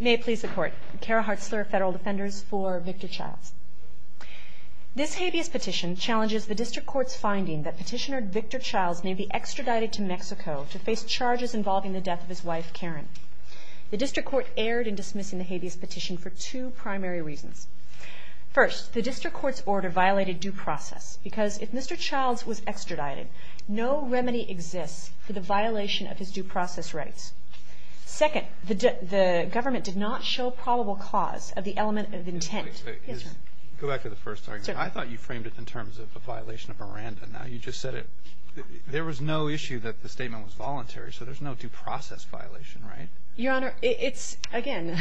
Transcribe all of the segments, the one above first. May it please the court, Kara Hartzler, Federal Defenders for Victor Childs. This habeas petition challenges the district court's finding that petitioner Victor Childs may be extradited to Mexico to face charges involving the death of his wife Karen. The district court erred in dismissing the habeas petition for two primary reasons. First, the district court's order violated due process because if Mr. Childs was extradited, no remedy exists for the violation of his due process rights. Second, the government did not show probable cause of the element of intent. Go back to the first argument. I thought you framed it in terms of a violation of Miranda. Now, you just said it. There was no issue that the statement was voluntary, so there's no due process violation, right? Your Honor, it's, again,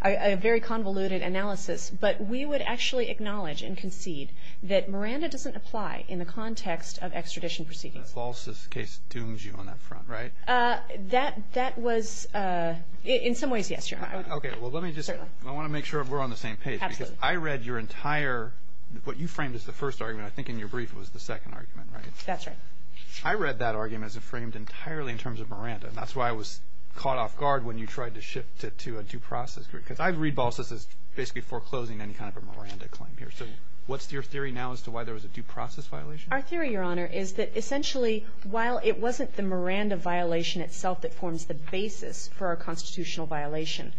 a very convoluted analysis, but we would actually acknowledge and concede that Miranda doesn't apply in the context of extradition proceedings. The Falsus case dooms you on that front, right? That was – in some ways, yes, Your Honor. Okay. Well, let me just – I want to make sure we're on the same page. Absolutely. Because I read your entire – what you framed as the first argument. I think in your brief it was the second argument, right? That's right. I read that argument as it framed entirely in terms of Miranda, and that's why I was caught off guard when you tried to shift it to a due process. Because I read Falsus as basically foreclosing any kind of a Miranda claim here. So what's your theory now as to why there was a due process violation? Our theory, Your Honor, is that essentially while it wasn't the Miranda violation itself that forms the basis for a constitutional violation,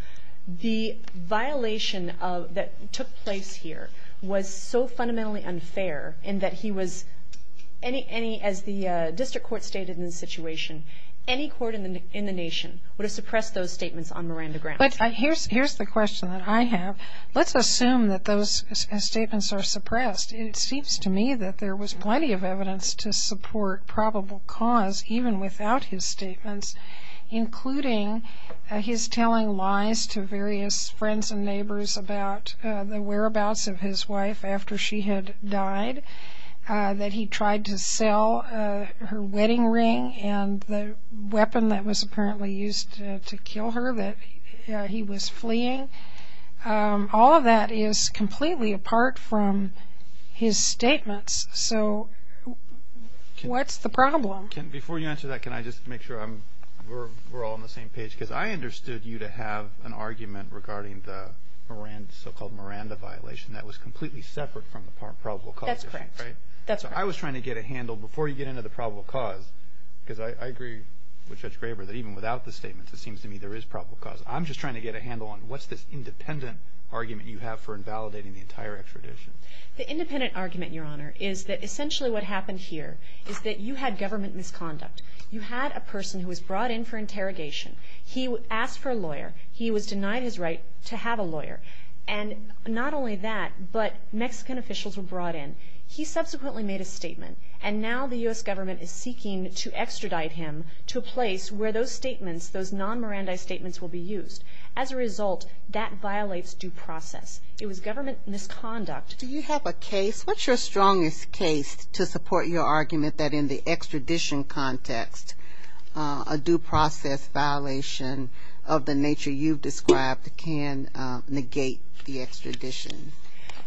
the violation that took place here was so fundamentally unfair in that he was – any – as the district court stated in the situation, any court in the nation would have suppressed those statements on Miranda grounds. But here's the question that I have. Let's assume that those statements are suppressed. It seems to me that there was plenty of evidence to support probable cause even without his statements, including his telling lies to various friends and neighbors about the whereabouts of his wife after she had died, that he tried to sell her wedding ring and the weapon that was apparently used to kill her that he was fleeing. All of that is completely apart from his statements. So what's the problem? Before you answer that, can I just make sure we're all on the same page? Because I understood you to have an argument regarding the so-called Miranda violation that was completely separate from the probable cause issue, right? That's correct. So I was trying to get a handle before you get into the probable cause, because I agree with Judge Graber that even without the statements it seems to me there is probable cause. I'm just trying to get a handle on what's this independent argument you have for invalidating the entire extradition. The independent argument, Your Honor, is that essentially what happened here is that you had government misconduct. You had a person who was brought in for interrogation. He asked for a lawyer. He was denied his right to have a lawyer. And not only that, but Mexican officials were brought in. He subsequently made a statement, and now the U.S. government is seeking to extradite him to a place where those statements, those non-Miranda statements will be used. As a result, that violates due process. It was government misconduct. Do you have a case? What's your strongest case to support your argument that in the extradition context, a due process violation of the nature you've described can negate the extradition?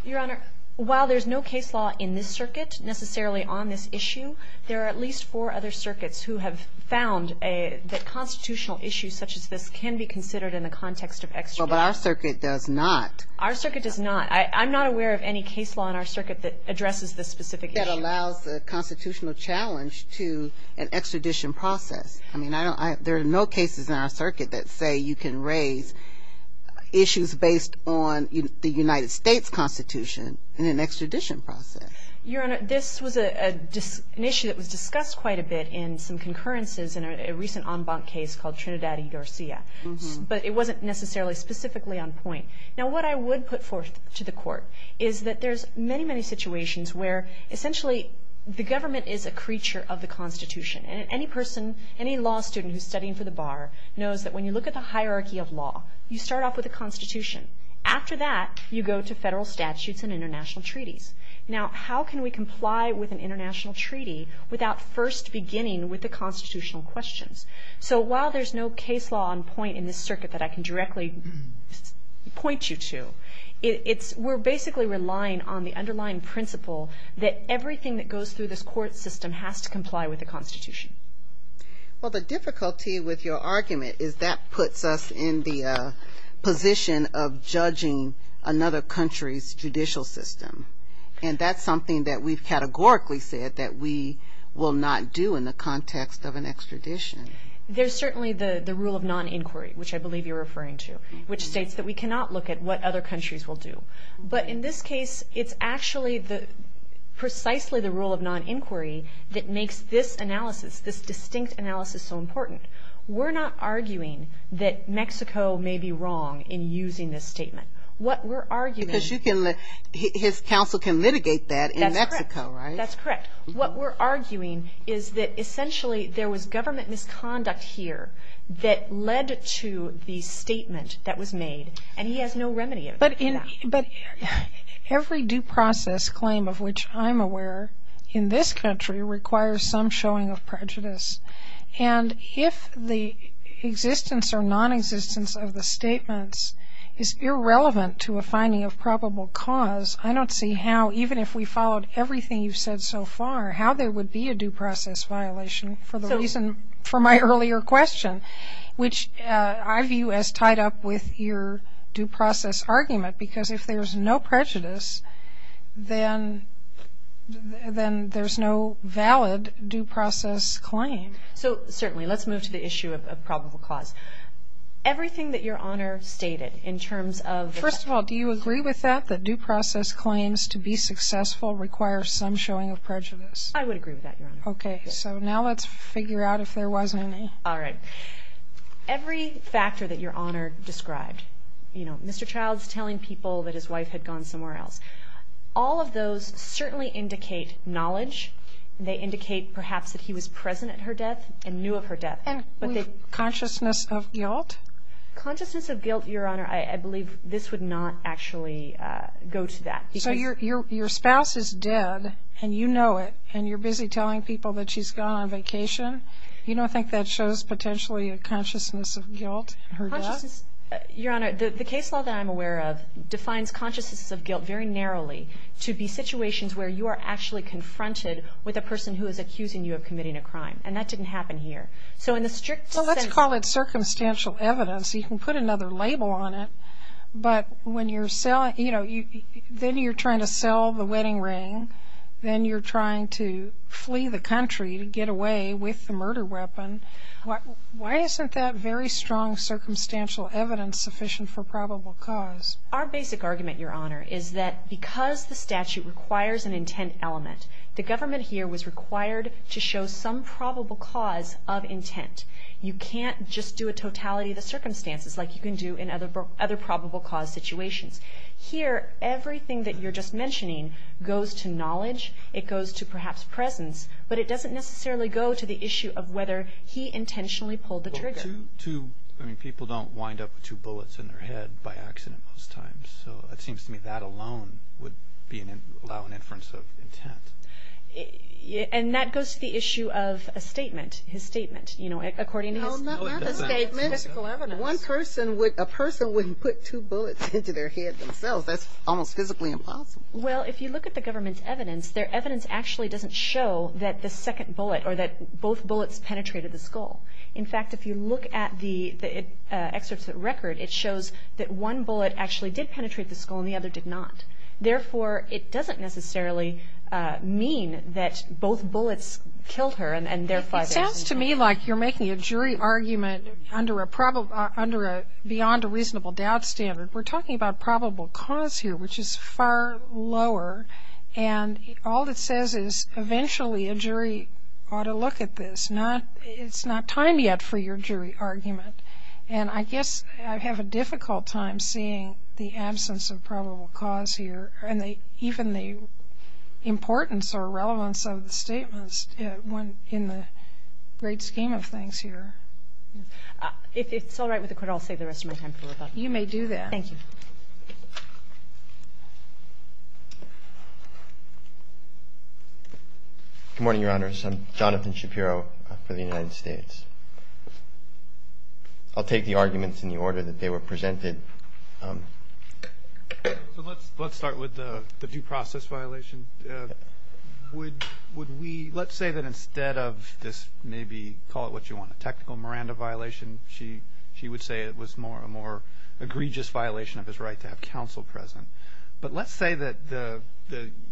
Your Honor, while there's no case law in this circuit necessarily on this issue, there are at least four other circuits who have found that constitutional issues such as this can be considered in the context of extradition. Well, but our circuit does not. Our circuit does not. I'm not aware of any case law in our circuit that addresses this specific issue. That allows the constitutional challenge to an extradition process. I mean, there are no cases in our circuit that say you can raise issues based on the United States Constitution in an extradition process. Your Honor, this was an issue that was discussed quite a bit in some concurrences in a recent en banc case called Trinidad y Garcia. But it wasn't necessarily specifically on point. Now, what I would put forth to the Court is that there's many, many situations where essentially the government is a creature of the Constitution. And any person, any law student who's studying for the bar knows that when you look at the hierarchy of law, you start off with the Constitution. After that, you go to federal statutes and international treaties. Now, how can we comply with an international treaty without first beginning with the constitutional questions? So while there's no case law on point in this circuit that I can directly point you to, we're basically relying on the underlying principle that everything that goes through this court system has to comply with the Constitution. Well, the difficulty with your argument is that puts us in the position of judging another country's judicial system. And that's something that we've categorically said that we will not do in the context of an extradition. There's certainly the rule of non-inquiry, which I believe you're referring to, which states that we cannot look at what other countries will do. But in this case, it's actually precisely the rule of non-inquiry that makes this analysis, this distinct analysis, so important. We're not arguing that Mexico may be wrong in using this statement. Because his counsel can litigate that in Mexico, right? That's correct. What we're arguing is that essentially there was government misconduct here that led to the statement that was made, and he has no remedy for that. But every due process claim of which I'm aware in this country requires some showing of prejudice. And if the existence or nonexistence of the statements is irrelevant to a finding of probable cause, I don't see how, even if we followed everything you've said so far, how there would be a due process violation for my earlier question, which I view as tied up with your due process argument. Because if there's no prejudice, then there's no valid due process claim. So certainly. Let's move to the issue of probable cause. Everything that Your Honor stated in terms of the fact that... First of all, do you agree with that, that due process claims to be successful require some showing of prejudice? I would agree with that, Your Honor. Okay. So now let's figure out if there was any. All right. Every factor that Your Honor described. You know, Mr. Childs telling people that his wife had gone somewhere else. All of those certainly indicate knowledge. They indicate perhaps that he was present at her death and knew of her death. Consciousness of guilt? Consciousness of guilt, Your Honor, I believe this would not actually go to that. So your spouse is dead, and you know it, and you're busy telling people that she's gone on vacation. You don't think that shows potentially a consciousness of guilt in her death? Your Honor, the case law that I'm aware of defines consciousness of guilt very narrowly to be situations where you are actually confronted with a person who is accusing you of committing a crime. And that didn't happen here. So in the strict sense... So let's call it circumstantial evidence. You can put another label on it. But when you're selling, you know, then you're trying to sell the wedding ring. Then you're trying to flee the country to get away with the murder weapon. Why isn't that very strong circumstantial evidence sufficient for probable cause? Our basic argument, Your Honor, is that because the statute requires an intent element, the government here was required to show some probable cause of intent. You can't just do a totality of the circumstances like you can do in other probable cause situations. Here, everything that you're just mentioning goes to knowledge. It goes to perhaps presence. But it doesn't necessarily go to the issue of whether he intentionally pulled the trigger. Well, two, I mean, people don't wind up with two bullets in their head by accident most times. So it seems to me that alone would allow an inference of intent. And that goes to the issue of a statement, his statement, you know, according to his... No, not his statement. Physical evidence. One person would, a person wouldn't put two bullets into their head themselves. That's almost physically impossible. Well, if you look at the government's evidence, their evidence actually doesn't show that the second bullet or that both bullets penetrated the skull. In fact, if you look at the excerpts that record, it shows that one bullet actually did penetrate the skull and the other did not. Therefore, it doesn't necessarily mean that both bullets killed her and therefore... It sounds to me like you're making a jury argument under a beyond a reasonable doubt standard. We're talking about probable cause here, which is far lower. And all it says is eventually a jury ought to look at this. It's not time yet for your jury argument. And I guess I have a difficult time seeing the absence of probable cause here and even the importance or relevance of the statements in the great scheme of things here. If it's all right with the court, I'll save the rest of my time for rebuttal. You may do that. Thank you. Good morning, Your Honors. I'm Jonathan Shapiro for the United States. I'll take the arguments in the order that they were presented. Let's start with the due process violation. Would we... Let's say that instead of this maybe call it what you want, a technical Miranda violation, she would say it was a more egregious violation of his right to have counsel present. But let's say that the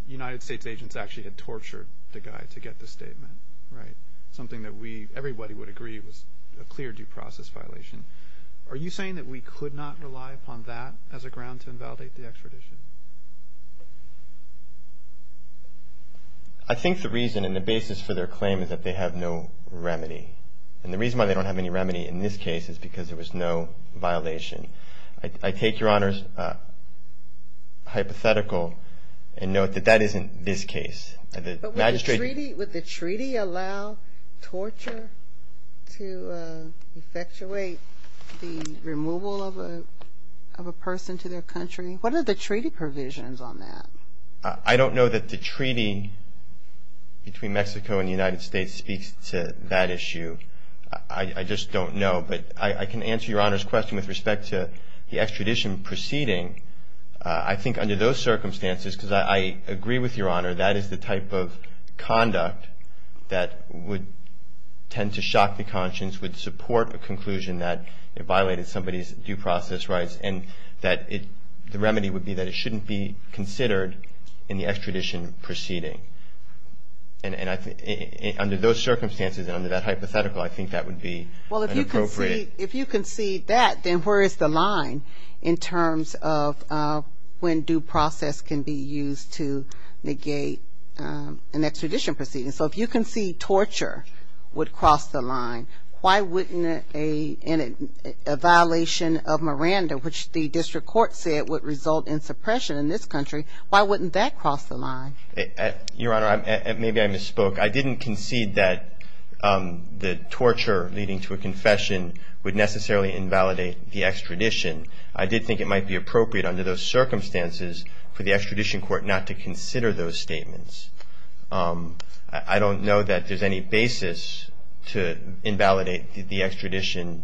United States agents actually had tortured the guy to get the statement, right, something that everybody would agree was a clear due process violation. Are you saying that we could not rely upon that as a ground to invalidate the extradition? I think the reason and the basis for their claim is that they have no remedy. And the reason why they don't have any remedy in this case is because there was no violation. I take Your Honors' hypothetical and note that that isn't this case. But would the treaty allow torture to effectuate the removal of a person to their country? What are the treaty provisions on that? I don't know that the treaty between Mexico and the United States speaks to that issue. I just don't know. But I can answer Your Honor's question with respect to the extradition proceeding. I think under those circumstances, because I agree with Your Honor, that is the type of conduct that would tend to shock the conscience, would support a conclusion that it violated somebody's due process rights, and that the remedy would be that it shouldn't be considered in the extradition proceeding. And under those circumstances and under that hypothetical, I think that would be inappropriate. Well, if you concede that, then where is the line in terms of when due process can be used to negate an extradition proceeding? So if you concede torture would cross the line, why wouldn't a violation of Miranda, which the district court said would result in suppression in this country, why wouldn't that cross the line? Your Honor, maybe I misspoke. I didn't concede that the torture leading to a confession would necessarily invalidate the extradition. I did think it might be appropriate under those circumstances for the extradition court not to consider those statements. I don't know that there's any basis to invalidate the extradition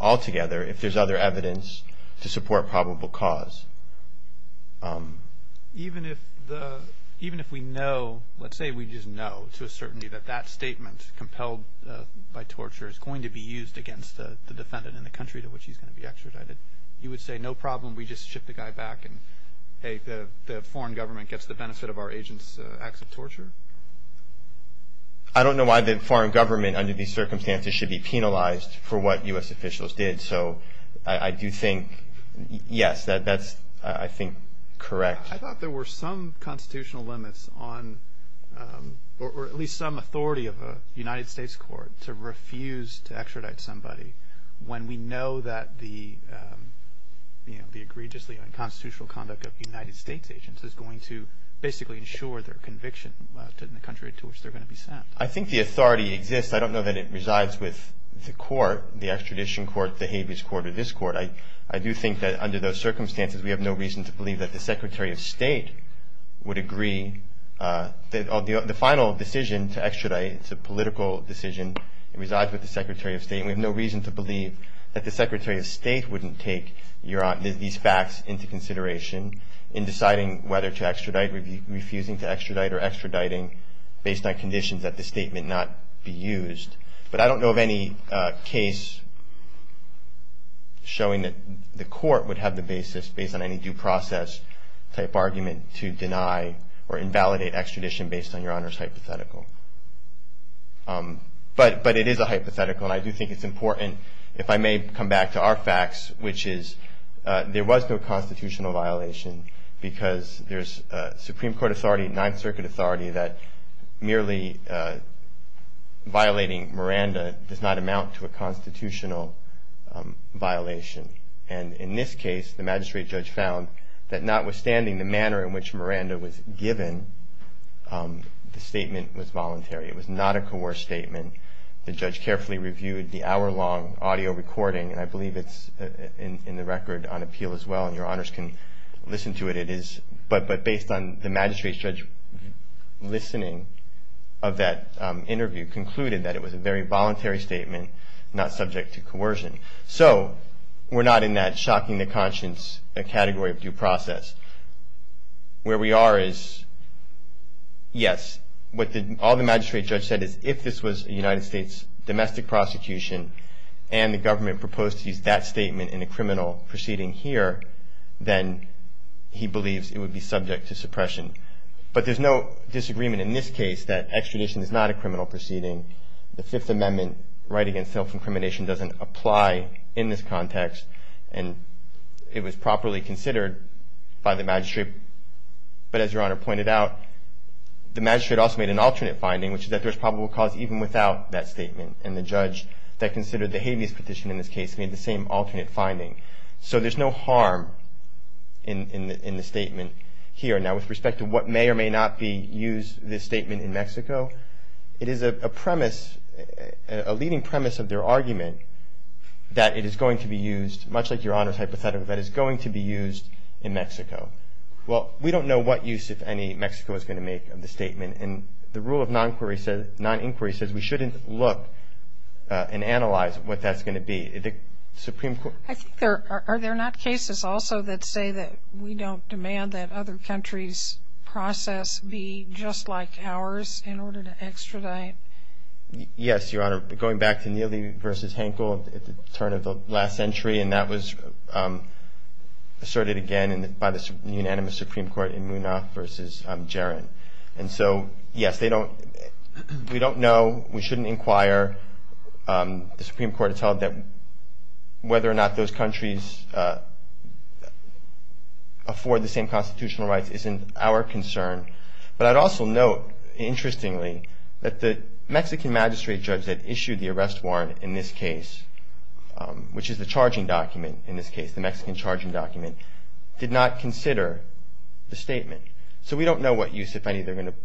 altogether, if there's other evidence to support probable cause. Even if we know, let's say we just know to a certainty that that statement, compelled by torture, is going to be used against the defendant in the country to which he's going to be extradited, you would say no problem, we just ship the guy back, and the foreign government gets the benefit of our agent's acts of torture? I don't know why the foreign government under these circumstances should be penalized for what U.S. officials did, so I do think, yes, that's, I think, correct. I thought there were some constitutional limits on, or at least some authority of a United States court, to refuse to extradite somebody when we know that the egregiously unconstitutional conduct of United States agents is going to basically ensure their conviction in the country to which they're going to be sent. I think the authority exists. I don't know that it resides with the court, the extradition court, the habeas court, or this court. I do think that under those circumstances we have no reason to believe that the Secretary of State would agree, the final decision to extradite, it's a political decision, resides with the Secretary of State, and we have no reason to believe that the Secretary of State wouldn't take these facts into consideration in deciding whether to extradite, refusing to extradite, or extraditing based on conditions that the state may not be used. But I don't know of any case showing that the court would have the basis, based on any due process type argument, to deny or invalidate extradition based on your Honor's hypothetical. But it is a hypothetical, and I do think it's important, if I may come back to our facts, which is there was no constitutional violation because there's Supreme Court authority, Ninth Circuit authority, that merely violating Miranda does not amount to a constitutional violation. And in this case, the magistrate judge found that notwithstanding the manner in which Miranda was given, the statement was voluntary. It was not a coerced statement. The judge carefully reviewed the hour-long audio recording, and I believe it's in the record on appeal as well, and your Honors can listen to it. But based on the magistrate judge's listening of that interview, concluded that it was a very voluntary statement, not subject to coercion. So we're not in that shocking to conscience category of due process. Where we are is, yes, all the magistrate judge said is if this was a United States domestic prosecution and the government proposed to use that statement in a criminal proceeding here, then he believes it would be subject to suppression. But there's no disagreement in this case that extradition is not a criminal proceeding. The Fifth Amendment right against self-incrimination doesn't apply in this context, and it was properly considered by the magistrate. But as your Honor pointed out, the magistrate also made an alternate finding, which is that there's probable cause even without that statement. And the judge that considered the habeas petition in this case made the same alternate finding. So there's no harm in the statement here. Now, with respect to what may or may not be used in this statement in Mexico, it is a premise, a leading premise of their argument that it is going to be used, much like your Honor's hypothetical, that it's going to be used in Mexico. Well, we don't know what use, if any, Mexico is going to make of the statement. And the rule of non-inquiry says we shouldn't look and analyze what that's going to be. The Supreme Court ---- I think there are there not cases also that say that we don't demand that other countries' process be just like ours in order to extradite. Yes, your Honor. Going back to Neely v. Hankel at the turn of the last century, and that was asserted again by the unanimous Supreme Court in Munaf v. Jarin. And so, yes, they don't ---- we don't know. We shouldn't inquire. The Supreme Court has held that whether or not those countries afford the same constitutional rights isn't our concern. But I'd also note, interestingly, that the Mexican magistrate judge that issued the arrest warrant in this case, which is the charging document in this case, the Mexican charging document, did not consider the statement. So we don't know what use, if any, they're going to ----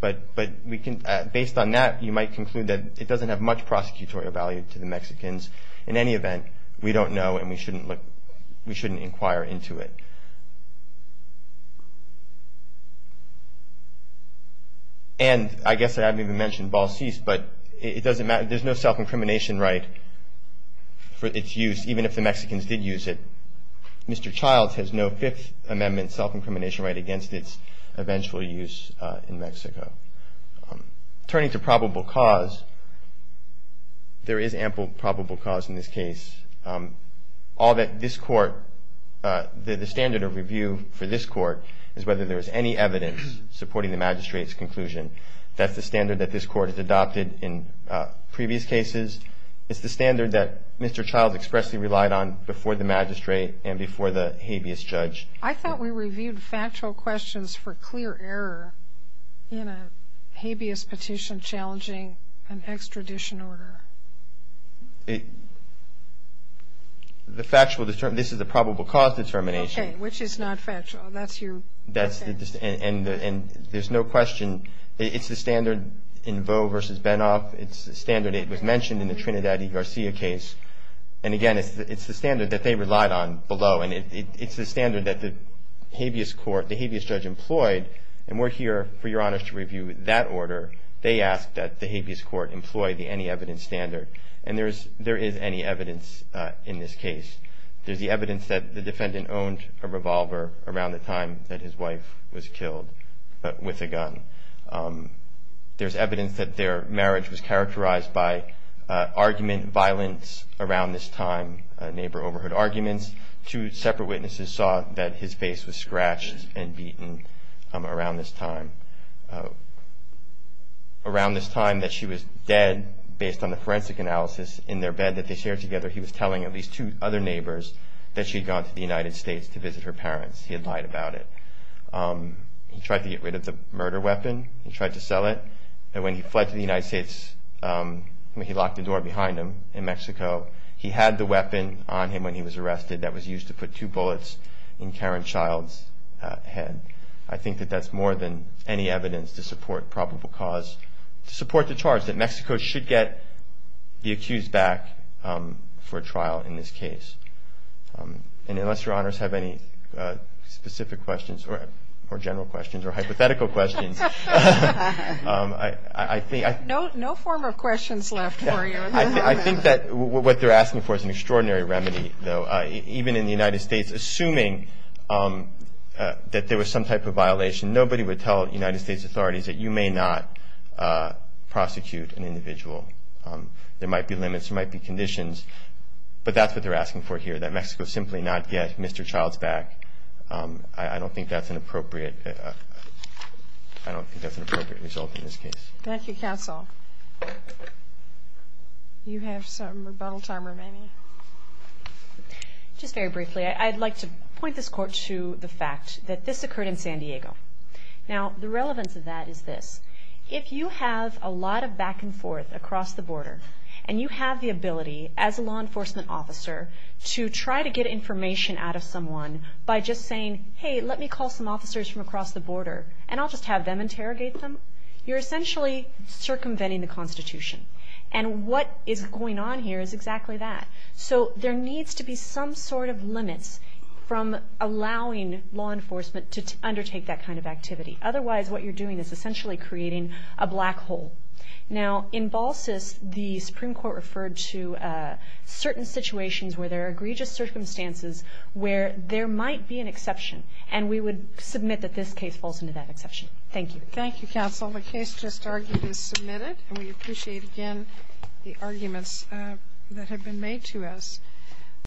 But based on that, you might conclude that it doesn't have much prosecutorial value to the Mexicans. In any event, we don't know and we shouldn't look ---- we shouldn't inquire into it. And I guess I haven't even mentioned Balseas, but it doesn't matter. There's no self-incrimination right for its use, even if the Mexicans did use it. Mr. Childs has no Fifth Amendment self-incrimination right against its eventual use in Mexico. Turning to probable cause, there is ample probable cause in this case. All that this Court ---- the standard of review for this Court is whether there is any evidence supporting the magistrate's conclusion. That's the standard that this Court has adopted in previous cases. It's the standard that Mr. Childs expressly relied on before the magistrate and before the habeas judge. I thought we reviewed factual questions for clear error in a habeas petition challenging an extradition order. The factual ---- this is the probable cause determination. Okay. Which is not factual. That's your ---- That's the ---- and there's no question. It's the standard in Voe v. Benoff. It's the standard that was mentioned in the Trinidad v. Garcia case. And, again, it's the standard that they relied on below. And it's the standard that the habeas court ---- the habeas judge employed. And we're here, for your honors, to review that order. They asked that the habeas court employ the any evidence standard. And there is any evidence in this case. There's the evidence that the defendant owned a revolver around the time that his wife was killed, but with a gun. There's evidence that their marriage was characterized by argument, violence around this time. A neighbor overheard arguments. Two separate witnesses saw that his face was scratched and beaten around this time. Around this time that she was dead, based on the forensic analysis in their bed that they shared together, he was telling at least two other neighbors that she had gone to the United States to visit her parents. He had lied about it. He tried to get rid of the murder weapon. He tried to sell it. And when he fled to the United States, when he locked the door behind him in Mexico, he had the weapon on him when he was arrested that was used to put two bullets in Karen Child's head. I think that that's more than any evidence to support probable cause, to support the charge that Mexico should get the accused back for trial in this case. And unless Your Honors have any specific questions or general questions or hypothetical questions, I think I... No form of questions left for you. I think that what they're asking for is an extraordinary remedy, though. Even in the United States, assuming that there was some type of violation, nobody would tell United States authorities that you may not prosecute an individual. There might be limits. There might be conditions. But that's what they're asking for here, that Mexico simply not get Mr. Child's back. I don't think that's an appropriate result in this case. Thank you, counsel. You have some rebuttal time remaining? Just very briefly, I'd like to point this court to the fact that this occurred in San Diego. Now, the relevance of that is this. If you have a lot of back and forth across the border, and you have the ability as a law enforcement officer to try to get information out of someone by just saying, hey, let me call some officers from across the border, and I'll just have them interrogate them, you're essentially circumventing the Constitution. And what is going on here is exactly that. So there needs to be some sort of limits from allowing law enforcement to undertake that kind of activity. Otherwise, what you're doing is essentially creating a black hole. Now, in Balsas, the Supreme Court referred to certain situations where there are egregious circumstances where there might be an exception, and we would submit that this case falls into that exception. Thank you. Thank you, counsel. The case just argued is submitted, and we appreciate, again, the arguments that have been made to us.